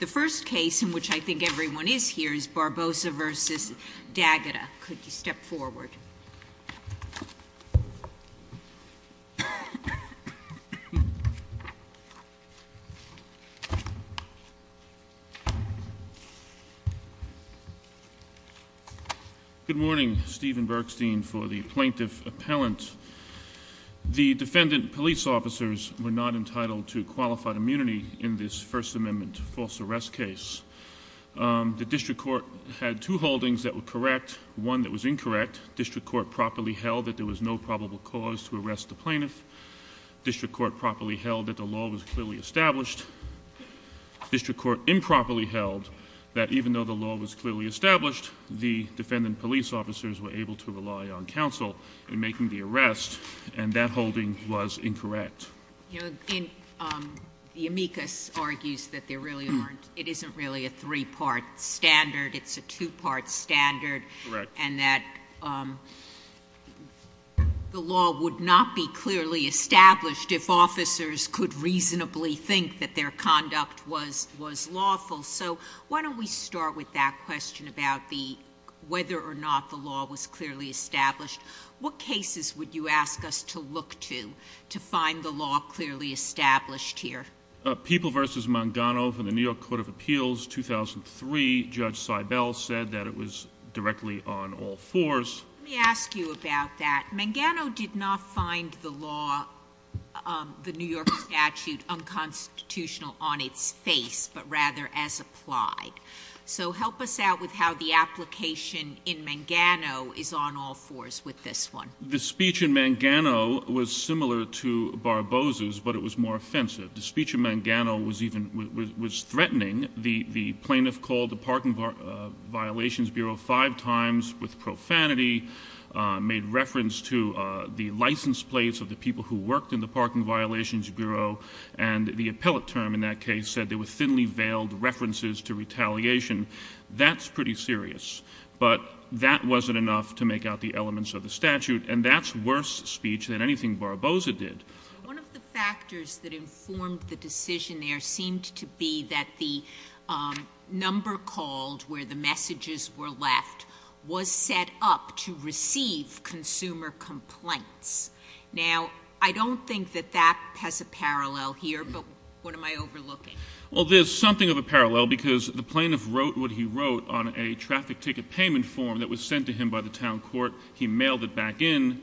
The first case in which I think everyone is here is Barboza v. D'Agata. Could you step forward? Good morning. Stephen Bergstein for the Plaintiff Appellant. The defendant police officers were not entitled to qualified immunity in this First Amendment false arrest case. The district court had two holdings that were correct, one that was incorrect. District court properly held that there was no probable cause to arrest the plaintiff. District court properly held that the law was clearly established. District court improperly held that even though the law was clearly established, the defendant police officers were able to rely on counsel in making the arrest, and that holding was incorrect. The amicus argues that it isn't really a three-part standard, it's a two-part standard, and that the law would not be clearly established if officers could reasonably think that their conduct was lawful. So why don't we start with that question about whether or not the law was clearly established. What cases would you ask us to look to, to find the law clearly established here? People v. Mangano for the New York Court of Appeals, 2003. Judge Seibel said that it was directly on all fours. Let me ask you about that. Mangano did not find the law, the New York statute, unconstitutional on its face, but rather as applied. So help us out with how the application in Mangano is on all fours with this one. The speech in Mangano was similar to Barbosa's, but it was more offensive. The speech in Mangano was threatening. The plaintiff called the Parking Violations Bureau five times with profanity, made reference to the license plates of the people who worked in the Parking Violations Bureau, and the appellate term in that case said there were thinly veiled references to retaliation. That's pretty serious, but that wasn't enough to make out the elements of the statute, and that's worse speech than anything Barbosa did. One of the factors that informed the decision there seemed to be that the number called where the messages were left was set up to receive consumer complaints. Now, I don't think that that has a parallel here, but what am I overlooking? Well, there's something of a parallel because the plaintiff wrote what he wrote on a traffic ticket payment form that was sent to him by the town court. He mailed it back in.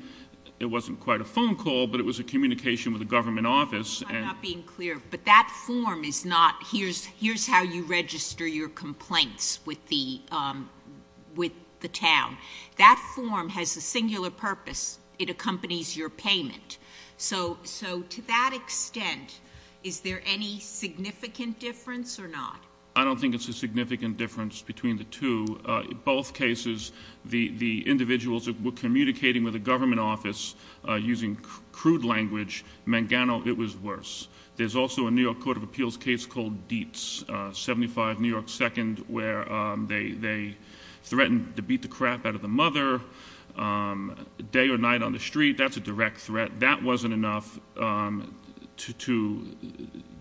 It wasn't quite a phone call, but it was a communication with a government office. I'm sorry, I'm not being clear, but that form is not here's how you register your complaints with the town. That form has a singular purpose. It accompanies your payment. So to that extent, is there any significant difference or not? I don't think it's a significant difference between the two. In both cases, the individuals were communicating with a government office using crude language. Mangano, it was worse. There's also a New York Court of Appeals case called Dietz, 75 New York 2nd, where they threatened to beat the crap out of the mother day or night on the street. That's a direct threat. That wasn't enough to,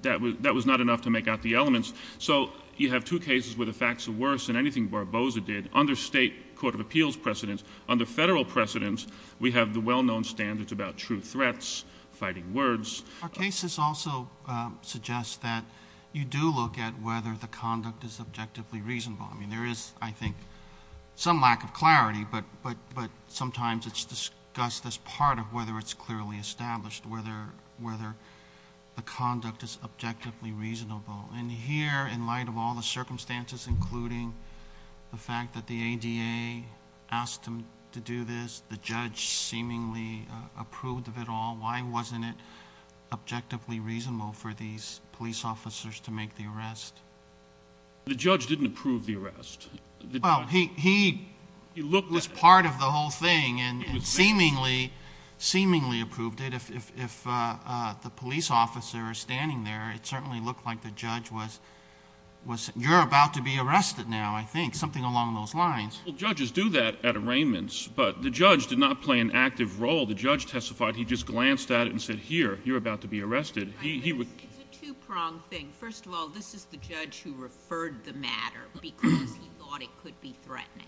that was not enough to make out the elements. So you have two cases where the facts are worse than anything Barbosa did. Under state court of appeals precedence, under federal precedence, we have the well-known standards about true threats, fighting words. Our cases also suggest that you do look at whether the conduct is objectively reasonable. I mean, there is, I think, some lack of clarity, but sometimes it's discussed as part of whether it's clearly established, whether the conduct is objectively reasonable. And here, in light of all the circumstances, including the fact that the ADA asked him to do this, the judge seemingly approved of it all, why wasn't it objectively reasonable for these police officers to make the arrest? The judge didn't approve the arrest. Well, he was part of the whole thing and seemingly, seemingly approved it. If the police officer is standing there, it certainly looked like the judge was, you're about to be arrested now, I think, something along those lines. Well, judges do that at arraignments, but the judge did not play an active role. The judge testified. He just glanced at it and said, here, you're about to be arrested. It's a two-pronged thing. First of all, this is the judge who referred the matter because he thought it could be threatening.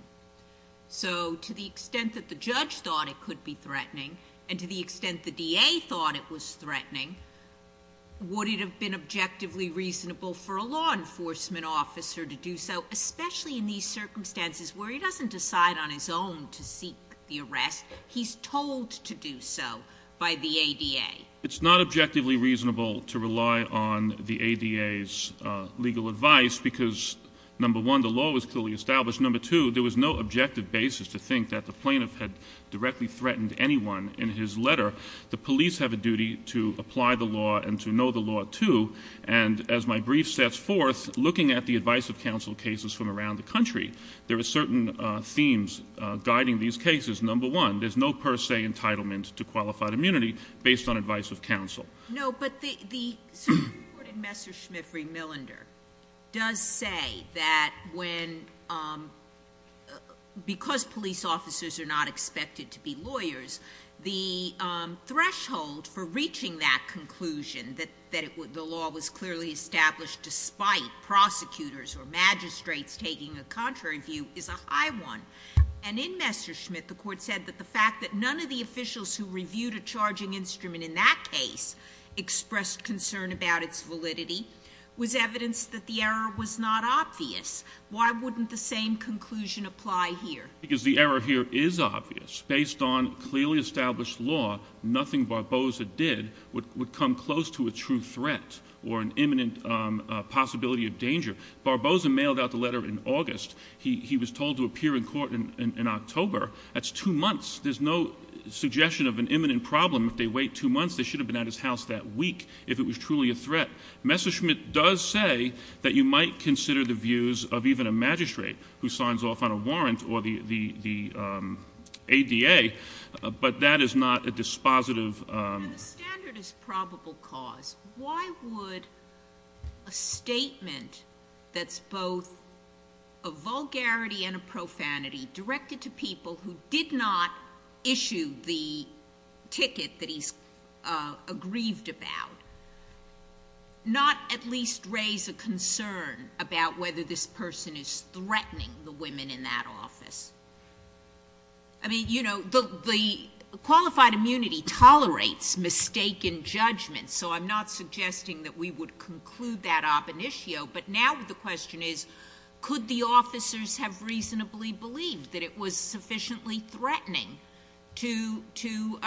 So to the extent that the judge thought it could be threatening and to the extent the DA thought it was threatening, would it have been objectively reasonable for a law enforcement officer to do so, especially in these circumstances where he doesn't decide on his own to seek the arrest? He's told to do so by the ADA. It's not objectively reasonable to rely on the ADA's legal advice because, number one, the law was clearly established. Number two, there was no objective basis to think that the plaintiff had directly threatened anyone in his letter. The police have a duty to apply the law and to know the law, too. And as my brief sets forth, looking at the advice of counsel cases from around the country, there are certain themes guiding these cases. Number one, there's no per se entitlement to qualified immunity based on advice of counsel. No, but the Supreme Court in Messerschmitt v. Millender does say that when, because police officers are not expected to be lawyers, the threshold for reaching that conclusion, that the law was clearly established despite prosecutors or magistrates taking a contrary view, is a high one. And in Messerschmitt, the court said that the fact that none of the officials who reviewed a charging instrument in that case expressed concern about its validity was evidence that the error was not obvious. Why wouldn't the same conclusion apply here? Because the error here is obvious. Based on clearly established law, nothing Barbosa did would come close to a true threat or an imminent possibility of danger. Barbosa mailed out the letter in August. He was told to appear in court in October. That's two months. There's no suggestion of an imminent problem. If they wait two months, they should have been at his house that week if it was truly a threat. Messerschmitt does say that you might consider the views of even a magistrate who signs off on a warrant or the ADA, but that is not a dispositive... And the standard is probable cause. Why would a statement that's both a vulgarity and a profanity directed to people who did not issue the ticket that he's aggrieved about not at least raise a concern about whether this person is threatening the women in that office? I mean, you know, the qualified immunity tolerates mistaken judgment, so I'm not suggesting that we would conclude that op initio, but now the question is could the officers have reasonably believed that it was sufficiently threatening to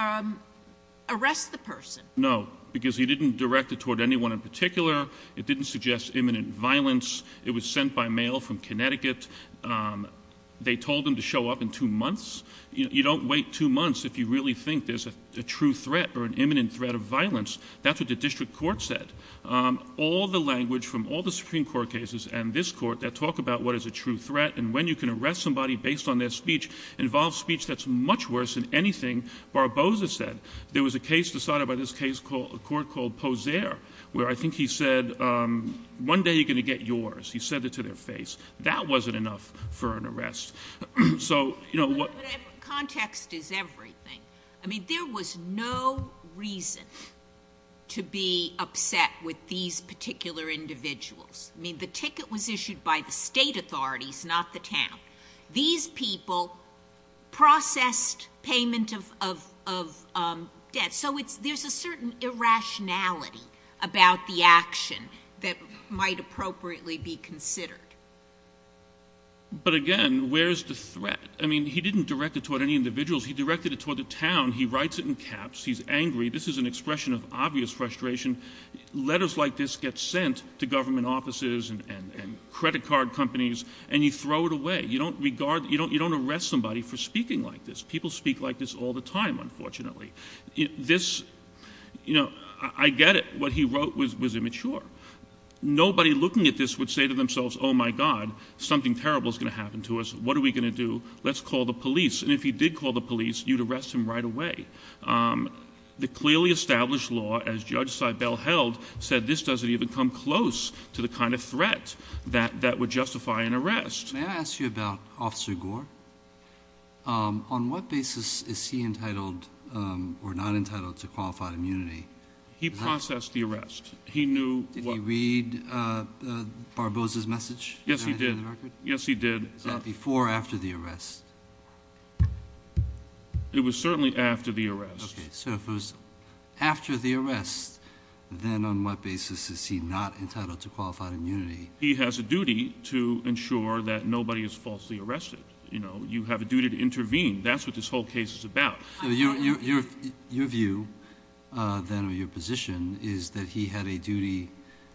arrest the person? No, because he didn't direct it toward anyone in particular. It didn't suggest imminent violence. It was sent by mail from Connecticut. They told him to show up in two months. You don't wait two months if you really think there's a true threat or an imminent threat of violence. That's what the district court said. All the language from all the Supreme Court cases and this court that talk about what is a true threat and when you can arrest somebody based on their speech involves speech that's much worse than anything Barbosa said. There was a case decided by this court called Poser where I think he said one day you're going to get yours. He said it to their face. That wasn't enough for an arrest. So, you know, what... But context is everything. I mean, there was no reason to be upset with these particular individuals. I mean, the ticket was issued by the state authorities, not the town. These people processed payment of debt. So there's a certain irrationality about the action that might appropriately be considered. But, again, where is the threat? I mean, he didn't direct it toward any individuals. He directed it toward the town. He writes it in caps. He's angry. This is an expression of obvious frustration. Letters like this get sent to government offices and credit card companies, and you throw it away. You don't arrest somebody for speaking like this. People speak like this all the time, unfortunately. This, you know, I get it. What he wrote was immature. Nobody looking at this would say to themselves, oh, my God, something terrible is going to happen to us. What are we going to do? Let's call the police. And if he did call the police, you'd arrest him right away. The clearly established law, as Judge Seibel held, said this doesn't even come close to the kind of threat that would justify an arrest. May I ask you about Officer Gore? On what basis is he entitled or not entitled to qualified immunity? He processed the arrest. He knew what — Did he read Barbosa's message? Yes, he did. Yes, he did. Was that before or after the arrest? It was certainly after the arrest. Okay, so if it was after the arrest, then on what basis is he not entitled to qualified immunity? He has a duty to ensure that nobody is falsely arrested. You know, you have a duty to intervene. That's what this whole case is about. So your view, then, or your position, is that he had a duty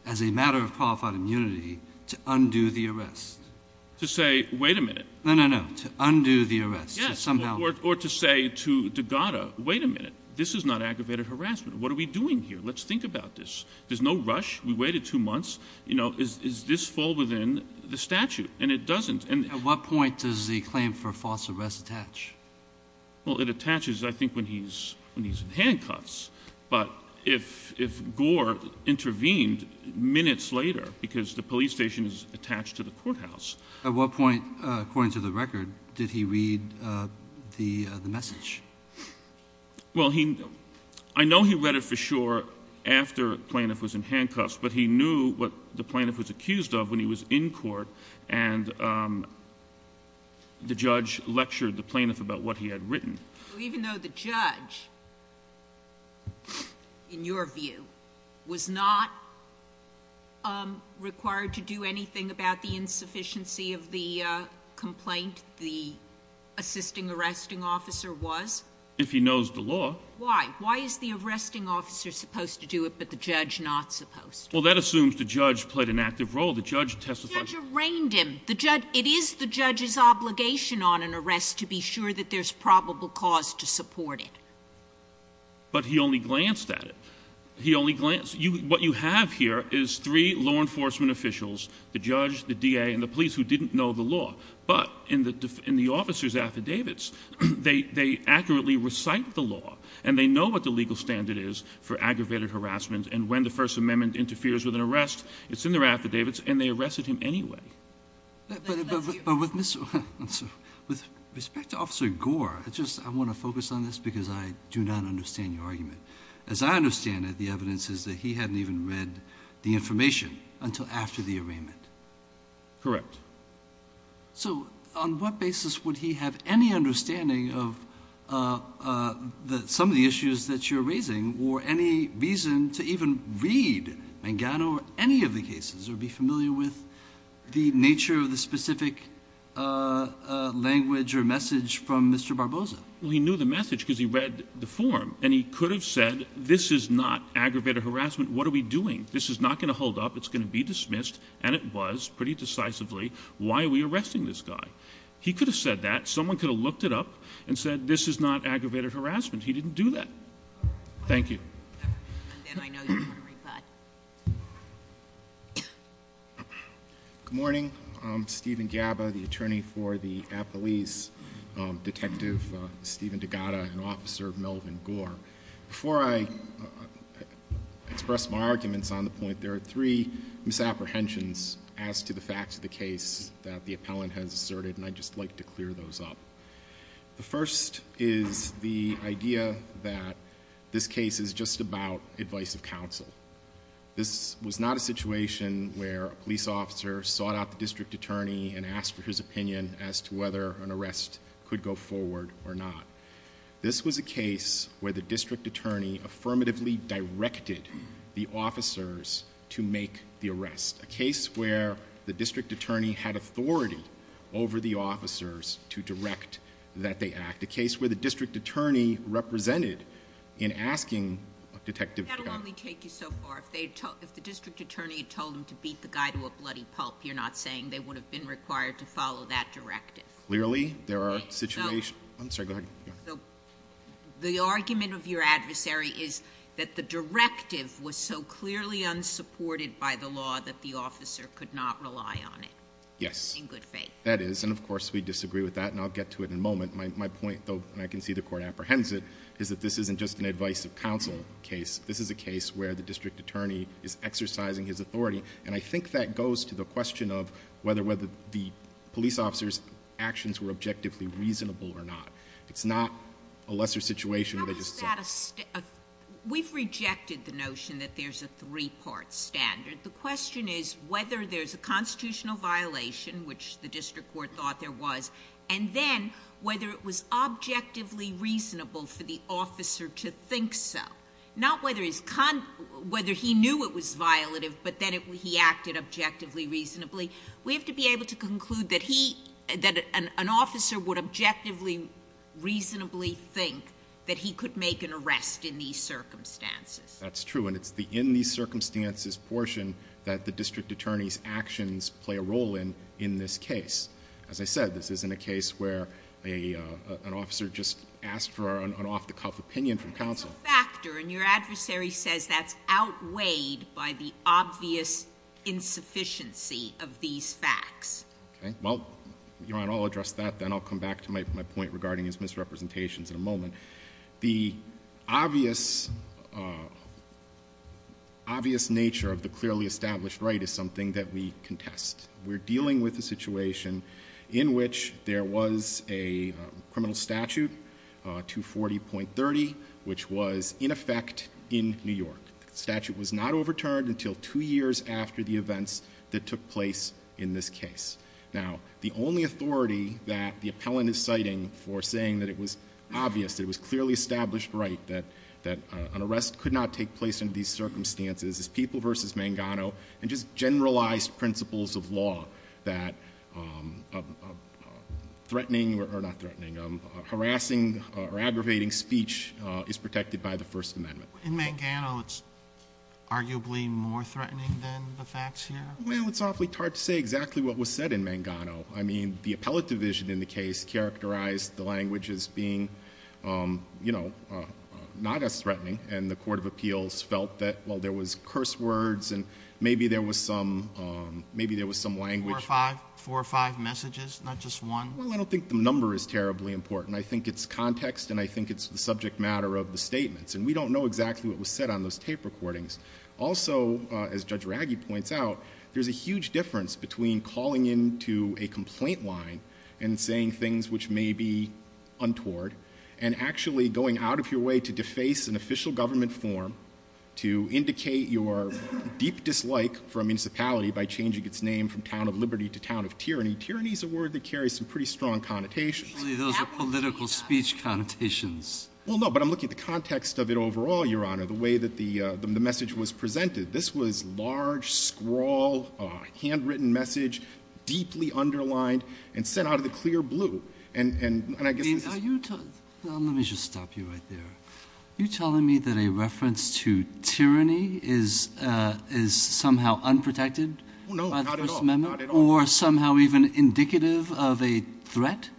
as a matter of qualified immunity to undo the arrest? To say, wait a minute. No, no, no, to undo the arrest. Yes, or to say to Degatta, wait a minute, this is not aggravated harassment. What are we doing here? Let's think about this. There's no rush. We waited two months. You know, does this fall within the statute? And it doesn't. At what point does the claim for false arrest attach? Well, it attaches, I think, when he's in handcuffs. But if Gore intervened minutes later, because the police station is attached to the courthouse. At what point, according to the record, did he read the message? Well, I know he read it for sure after the plaintiff was in handcuffs, but he knew what the plaintiff was accused of when he was in court, and the judge lectured the plaintiff about what he had written. Even though the judge, in your view, was not required to do anything about the insufficiency of the complaint, the assisting arresting officer was? If he knows the law. Why? Why is the arresting officer supposed to do it but the judge not supposed to? Well, that assumes the judge played an active role. The judge testified. The judge arraigned him. It is the judge's obligation on an arrest to be sure that there's probable cause to support it. But he only glanced at it. He only glanced. What you have here is three law enforcement officials, the judge, the DA, and the police, who didn't know the law. But in the officer's affidavits, they accurately recite the law, and they know what the legal standard is for aggravated harassment, and when the First Amendment interferes with an arrest, it's in their affidavits, and they arrested him anyway. But with respect to Officer Gore, I want to focus on this because I do not understand your argument. As I understand it, the evidence is that he hadn't even read the information until after the arraignment. Correct. So on what basis would he have any understanding of some of the issues that you're raising or any reason to even read Mangano or any of the cases or be familiar with the nature of the specific language or message from Mr. Barbosa? Well, he knew the message because he read the form, and he could have said this is not aggravated harassment. What are we doing? This is not going to hold up. It's going to be dismissed, and it was pretty decisively. Why are we arresting this guy? He could have said that. Someone could have looked it up and said this is not aggravated harassment. He didn't do that. Thank you. Good morning. I'm Stephen Gabba, the attorney for the appellees, Detective Stephen DeGatta and Officer Melvin Gore. Before I express my arguments on the point, there are three misapprehensions as to the facts of the case that the appellant has asserted, and I'd just like to clear those up. The first is the idea that this case is just about advice of counsel. This was not a situation where a police officer sought out the district attorney and asked for his opinion as to whether an arrest could go forward or not. This was a case where the district attorney affirmatively directed the officers to make the arrest, a case where the district attorney had authority over the officers to direct that they act, a case where the district attorney represented in asking Detective DeGatta. That will only take you so far. If the district attorney had told them to beat the guy to a bloody pulp, you're not saying they would have been required to follow that directive? Clearly, there are situations. I'm sorry, go ahead. So the argument of your adversary is that the directive was so clearly unsupported by the law that the officer could not rely on it? Yes. In good faith. That is, and of course we disagree with that, and I'll get to it in a moment. My point, though, and I can see the Court apprehends it, is that this isn't just an advice of counsel case. This is a case where the district attorney is exercising his authority, and I think that goes to the question of whether the police officer's actions were objectively reasonable or not. It's not a lesser situation where they just sought. We've rejected the notion that there's a three-part standard. The question is whether there's a constitutional violation, which the district court thought there was, and then whether it was objectively reasonable for the officer to think so. Not whether he knew it was violative, but then he acted objectively reasonably. We have to be able to conclude that an officer would objectively reasonably think that he could make an arrest in these circumstances. That's true, and it's the in these circumstances portion that the district attorney's actions play a role in in this case. As I said, this isn't a case where an officer just asked for an off-the-cuff opinion from counsel. It's a factor, and your adversary says that's outweighed by the obvious insufficiency of these facts. Okay. Well, Your Honor, I'll address that, then I'll come back to my point regarding his misrepresentations in a moment. The obvious nature of the clearly established right is something that we contest. We're dealing with a situation in which there was a criminal statute, 240.30, which was in effect in New York. The statute was not overturned until two years after the events that took place in this case. Now, the only authority that the appellant is citing for saying that it was obvious, that it was clearly established right, that an arrest could not take place in these circumstances, is People v. Mangano, and just generalized principles of law that threatening, or not threatening, harassing or aggravating speech is protected by the First Amendment. In Mangano, it's arguably more threatening than the facts here? Well, it's awfully hard to say exactly what was said in Mangano. I mean, the appellate division in the case characterized the language as being not as threatening, and the Court of Appeals felt that, well, there was curse words, and maybe there was some language- Four or five messages, not just one? Well, I don't think the number is terribly important. I think it's context, and I think it's the subject matter of the statements, and we don't know exactly what was said on those tape recordings. Also, as Judge Raggi points out, there's a huge difference between calling into a complaint line and saying things which may be untoward, and actually going out of your way to deface an official government form to indicate your deep dislike for a municipality by changing its name from Town of Liberty to Town of Tyranny. Tyranny is a word that carries some pretty strong connotations. Surely those are political speech connotations. Well, no, but I'm looking at the context of it overall, Your Honor, the way that the message was presented. This was large, scrawl, handwritten message, deeply underlined, and sent out of the clear blue. Let me just stop you right there. Are you telling me that a reference to tyranny is somehow unprotected by the First Amendment? No, not at all. Or somehow even indicative of a threat?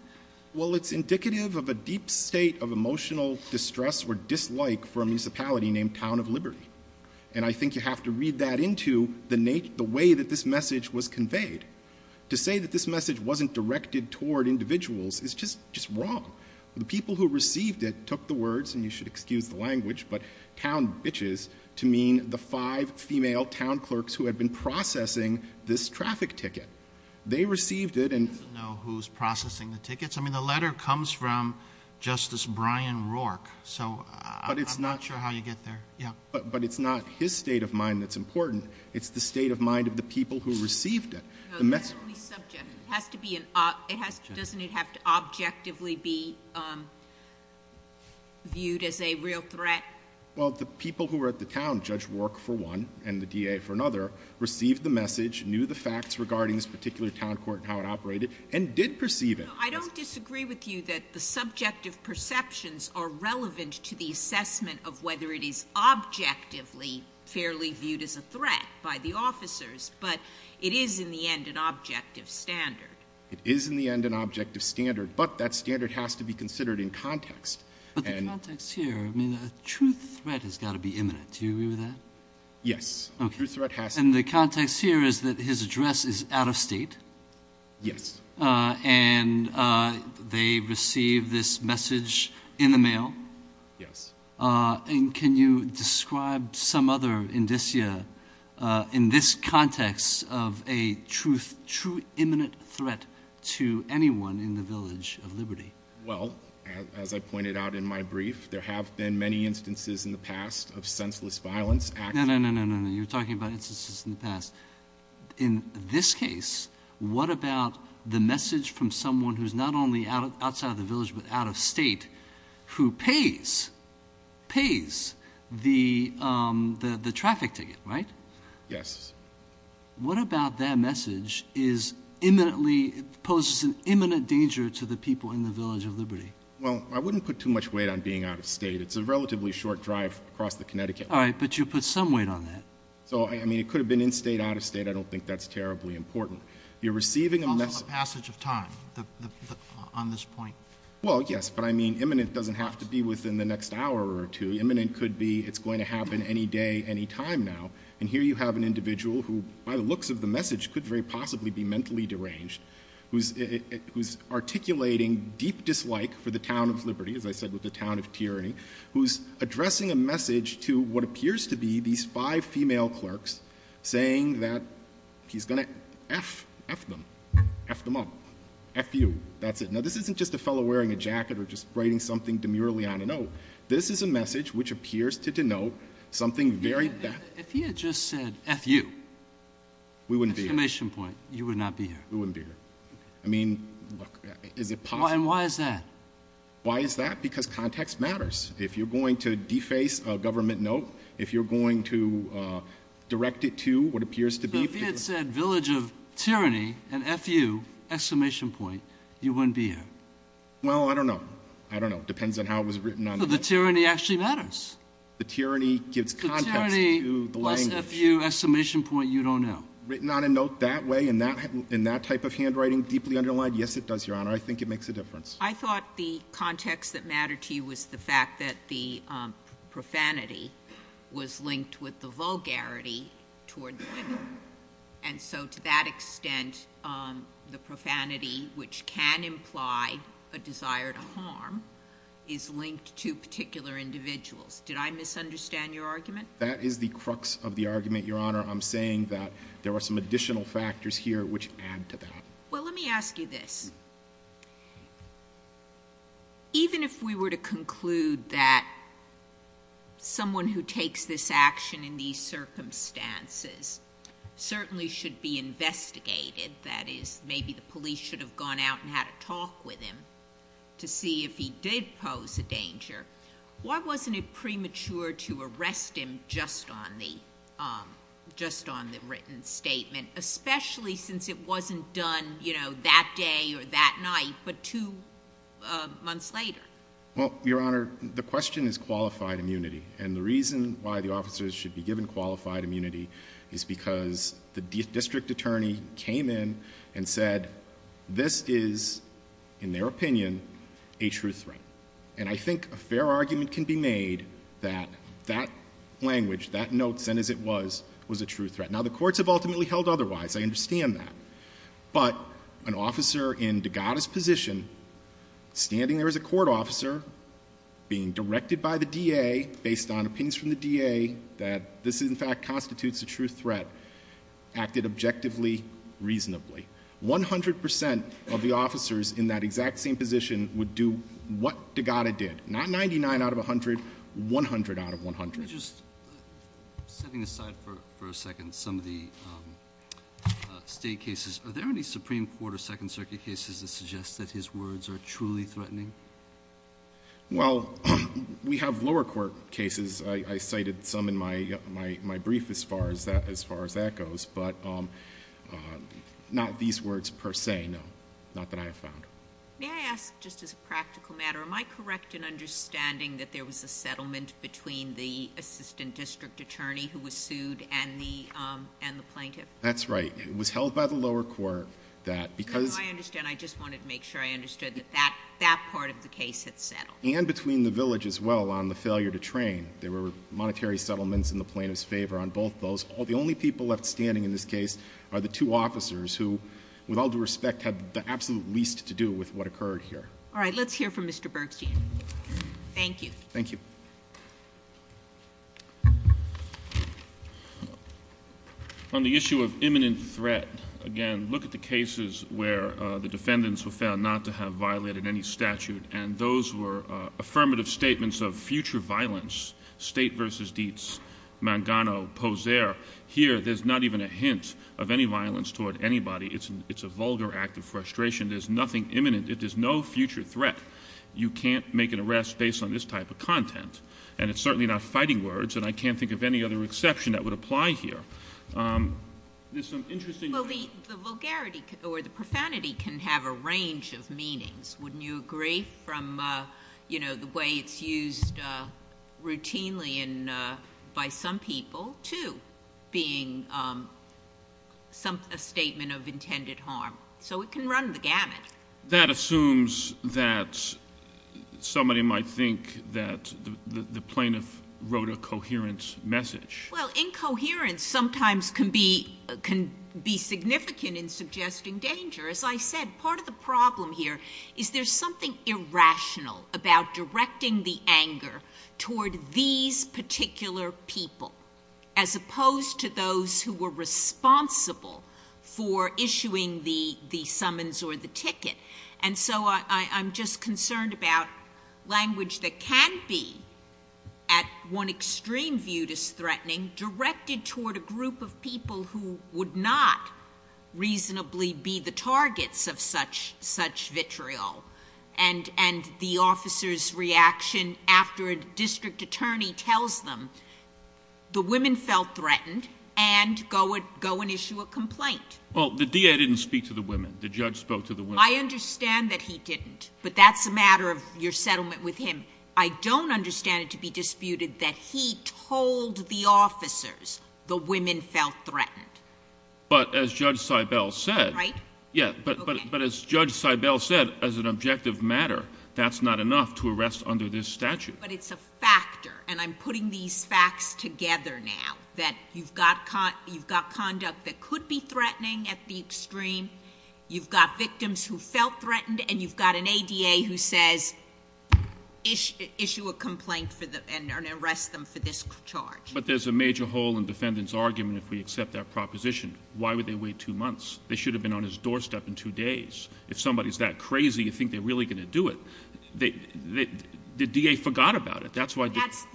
Well, it's indicative of a deep state of emotional distress or dislike for a municipality named Town of Liberty, and I think you have to read that into the way that this message was conveyed. To say that this message wasn't directed toward individuals is just wrong. The people who received it took the words, and you should excuse the language, but town bitches to mean the five female town clerks who had been processing this traffic ticket. They received it and… I don't know who's processing the tickets. I mean the letter comes from Justice Brian Rourke, so I'm not sure how you get there. But it's not his state of mind that's important. It's the state of mind of the people who received it. No, it's fairly subjective. It has to be an – doesn't it have to objectively be viewed as a real threat? Well, the people who were at the town, Judge Rourke for one and the DA for another, received the message, knew the facts regarding this particular town court and how it operated, and did perceive it. I don't disagree with you that the subjective perceptions are relevant to the assessment of whether it is objectively fairly viewed as a threat by the officers, but it is in the end an objective standard. It is in the end an objective standard, but that standard has to be considered in context. But the context here, I mean a true threat has got to be imminent. Do you agree with that? Yes. And the context here is that his address is out of state. Yes. And they received this message in the mail. Yes. And can you describe some other indicia in this context of a true imminent threat to anyone in the Village of Liberty? Well, as I pointed out in my brief, there have been many instances in the past of senseless violence. No, no, no, no, no, no. You're talking about instances in the past. In this case, what about the message from someone who is not only outside of the Village but out of state, who pays, pays the traffic ticket, right? Yes. What about that message is imminently, poses an imminent danger to the people in the Village of Liberty? Well, I wouldn't put too much weight on being out of state. It's a relatively short drive across the Connecticut. All right, but you'll put some weight on that. So, I mean, it could have been in state, out of state. I don't think that's terribly important. You're receiving a message. Also a passage of time on this point. Well, yes, but I mean imminent doesn't have to be within the next hour or two. Imminent could be it's going to happen any day, any time now. And here you have an individual who, by the looks of the message, could very possibly be mentally deranged, who's articulating deep dislike for the Town of Liberty, as I said, with the Town of Tyranny, who's addressing a message to what appears to be these five female clerks saying that he's going to F, F them, F them up, F you, that's it. Now, this isn't just a fellow wearing a jacket or just writing something demurely on a note. This is a message which appears to denote something very bad. If he had just said F you, we wouldn't be here. Exclamation point. You would not be here. We wouldn't be here. I mean, look, is it possible? And why is that? Why is that? Because context matters. If you're going to deface a government note, if you're going to direct it to what appears to be... But if he had said Village of Tyranny and F you, exclamation point, you wouldn't be here. Well, I don't know. I don't know. It depends on how it was written. But the tyranny actually matters. The tyranny gives context to the language. The tyranny plus F you, exclamation point, you don't know. Written on a note that way, in that type of handwriting, deeply underlined, yes, it does, Your Honor. I think it makes a difference. I thought the context that mattered to you was the fact that the profanity was linked with the vulgarity toward women. And so to that extent, the profanity, which can imply a desire to harm, is linked to particular individuals. Did I misunderstand your argument? That is the crux of the argument, Your Honor. I'm saying that there are some additional factors here which add to that. Well, let me ask you this. Even if we were to conclude that someone who takes this action in these circumstances certainly should be investigated, that is, maybe the police should have gone out and had a talk with him to see if he did pose a danger, why wasn't it premature to arrest him just on the written statement, especially since it wasn't done that day or that night but two months later? Well, Your Honor, the question is qualified immunity. And the reason why the officers should be given qualified immunity is because the district attorney came in and said, this is, in their opinion, a true threat. And I think a fair argument can be made that that language, that note sent as it was, was a true threat. Now, the courts have ultimately held otherwise. I understand that. But an officer in Degatta's position, standing there as a court officer, being directed by the DA based on opinions from the DA that this, in fact, constitutes a true threat, acted objectively reasonably. 100 percent of the officers in that exact same position would do what Degatta did. Not 99 out of 100, 100 out of 100. Let me just, setting aside for a second some of the State cases, are there any Supreme Court or Second Circuit cases that suggest that his words are truly threatening? Well, we have lower court cases. I cited some in my brief as far as that goes. But not these words per se, no. Not that I have found. May I ask, just as a practical matter, am I correct in understanding that there was a settlement between the assistant district attorney who was sued and the plaintiff? That's right. It was held by the lower court that, because I understand. I just wanted to make sure I understood that that part of the case had settled. And between the village as well on the failure to train. There were monetary settlements in the plaintiff's favor on both those. The only people left standing in this case are the two officers who, with all due respect, had the absolute least to do with what occurred here. All right. Let's hear from Mr. Bergstein. Thank you. Thank you. On the issue of imminent threat, again, look at the cases where the defendants were found not to have violated any statute. And those were affirmative statements of future violence. State versus Dietz. Mangano. Poser. Here, there's not even a hint of any violence toward anybody. It's a vulgar act of frustration. There's nothing imminent. It is no future threat. You can't make an arrest based on this type of content. And it's certainly not fighting words. And I can't think of any other exception that would apply here. There's some interesting... Well, the vulgarity or the profanity can have a range of meanings. Wouldn't you agree from, you know, the way it's used routinely by some people to being a statement of intended harm? So it can run the gamut. That assumes that somebody might think that the plaintiff wrote a coherent message. Well, incoherence sometimes can be significant in suggesting danger. As I said, part of the problem here is there's something irrational about directing the anger toward these particular people as opposed to those who were responsible for issuing the summons or the ticket. And so I'm just concerned about language that can be, at one extreme, viewed as threatening, directed toward a group of people who would not reasonably be the targets of such vitriol. And the officer's reaction after a district attorney tells them, the women felt threatened and go and issue a complaint. Well, the DA didn't speak to the women. The judge spoke to the women. I understand that he didn't, but that's a matter of your settlement with him. I don't understand it to be disputed that he told the officers the women felt threatened. But as Judge Seibel said— Right? Yeah, but as Judge Seibel said, as an objective matter, that's not enough to arrest under this statute. But it's a factor, and I'm putting these facts together now, that you've got conduct that could be threatening at the extreme. You've got victims who felt threatened, and you've got an ADA who says, issue a complaint and arrest them for this charge. But there's a major hole in defendant's argument if we accept that proposition. Why would they wait two months? They should have been on his doorstep in two days. If somebody's that crazy, you think they're really going to do it. The DA forgot about it. That's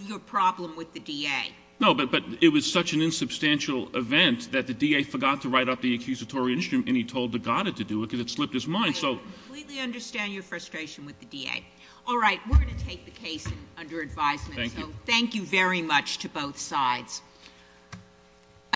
your problem with the DA. No, but it was such an insubstantial event that the DA forgot to write up the accusatory instrument, and he told Degatta to do it because it slipped his mind. I completely understand your frustration with the DA. All right, we're going to take the case under advisement. Thank you. Thank you very much to both sides.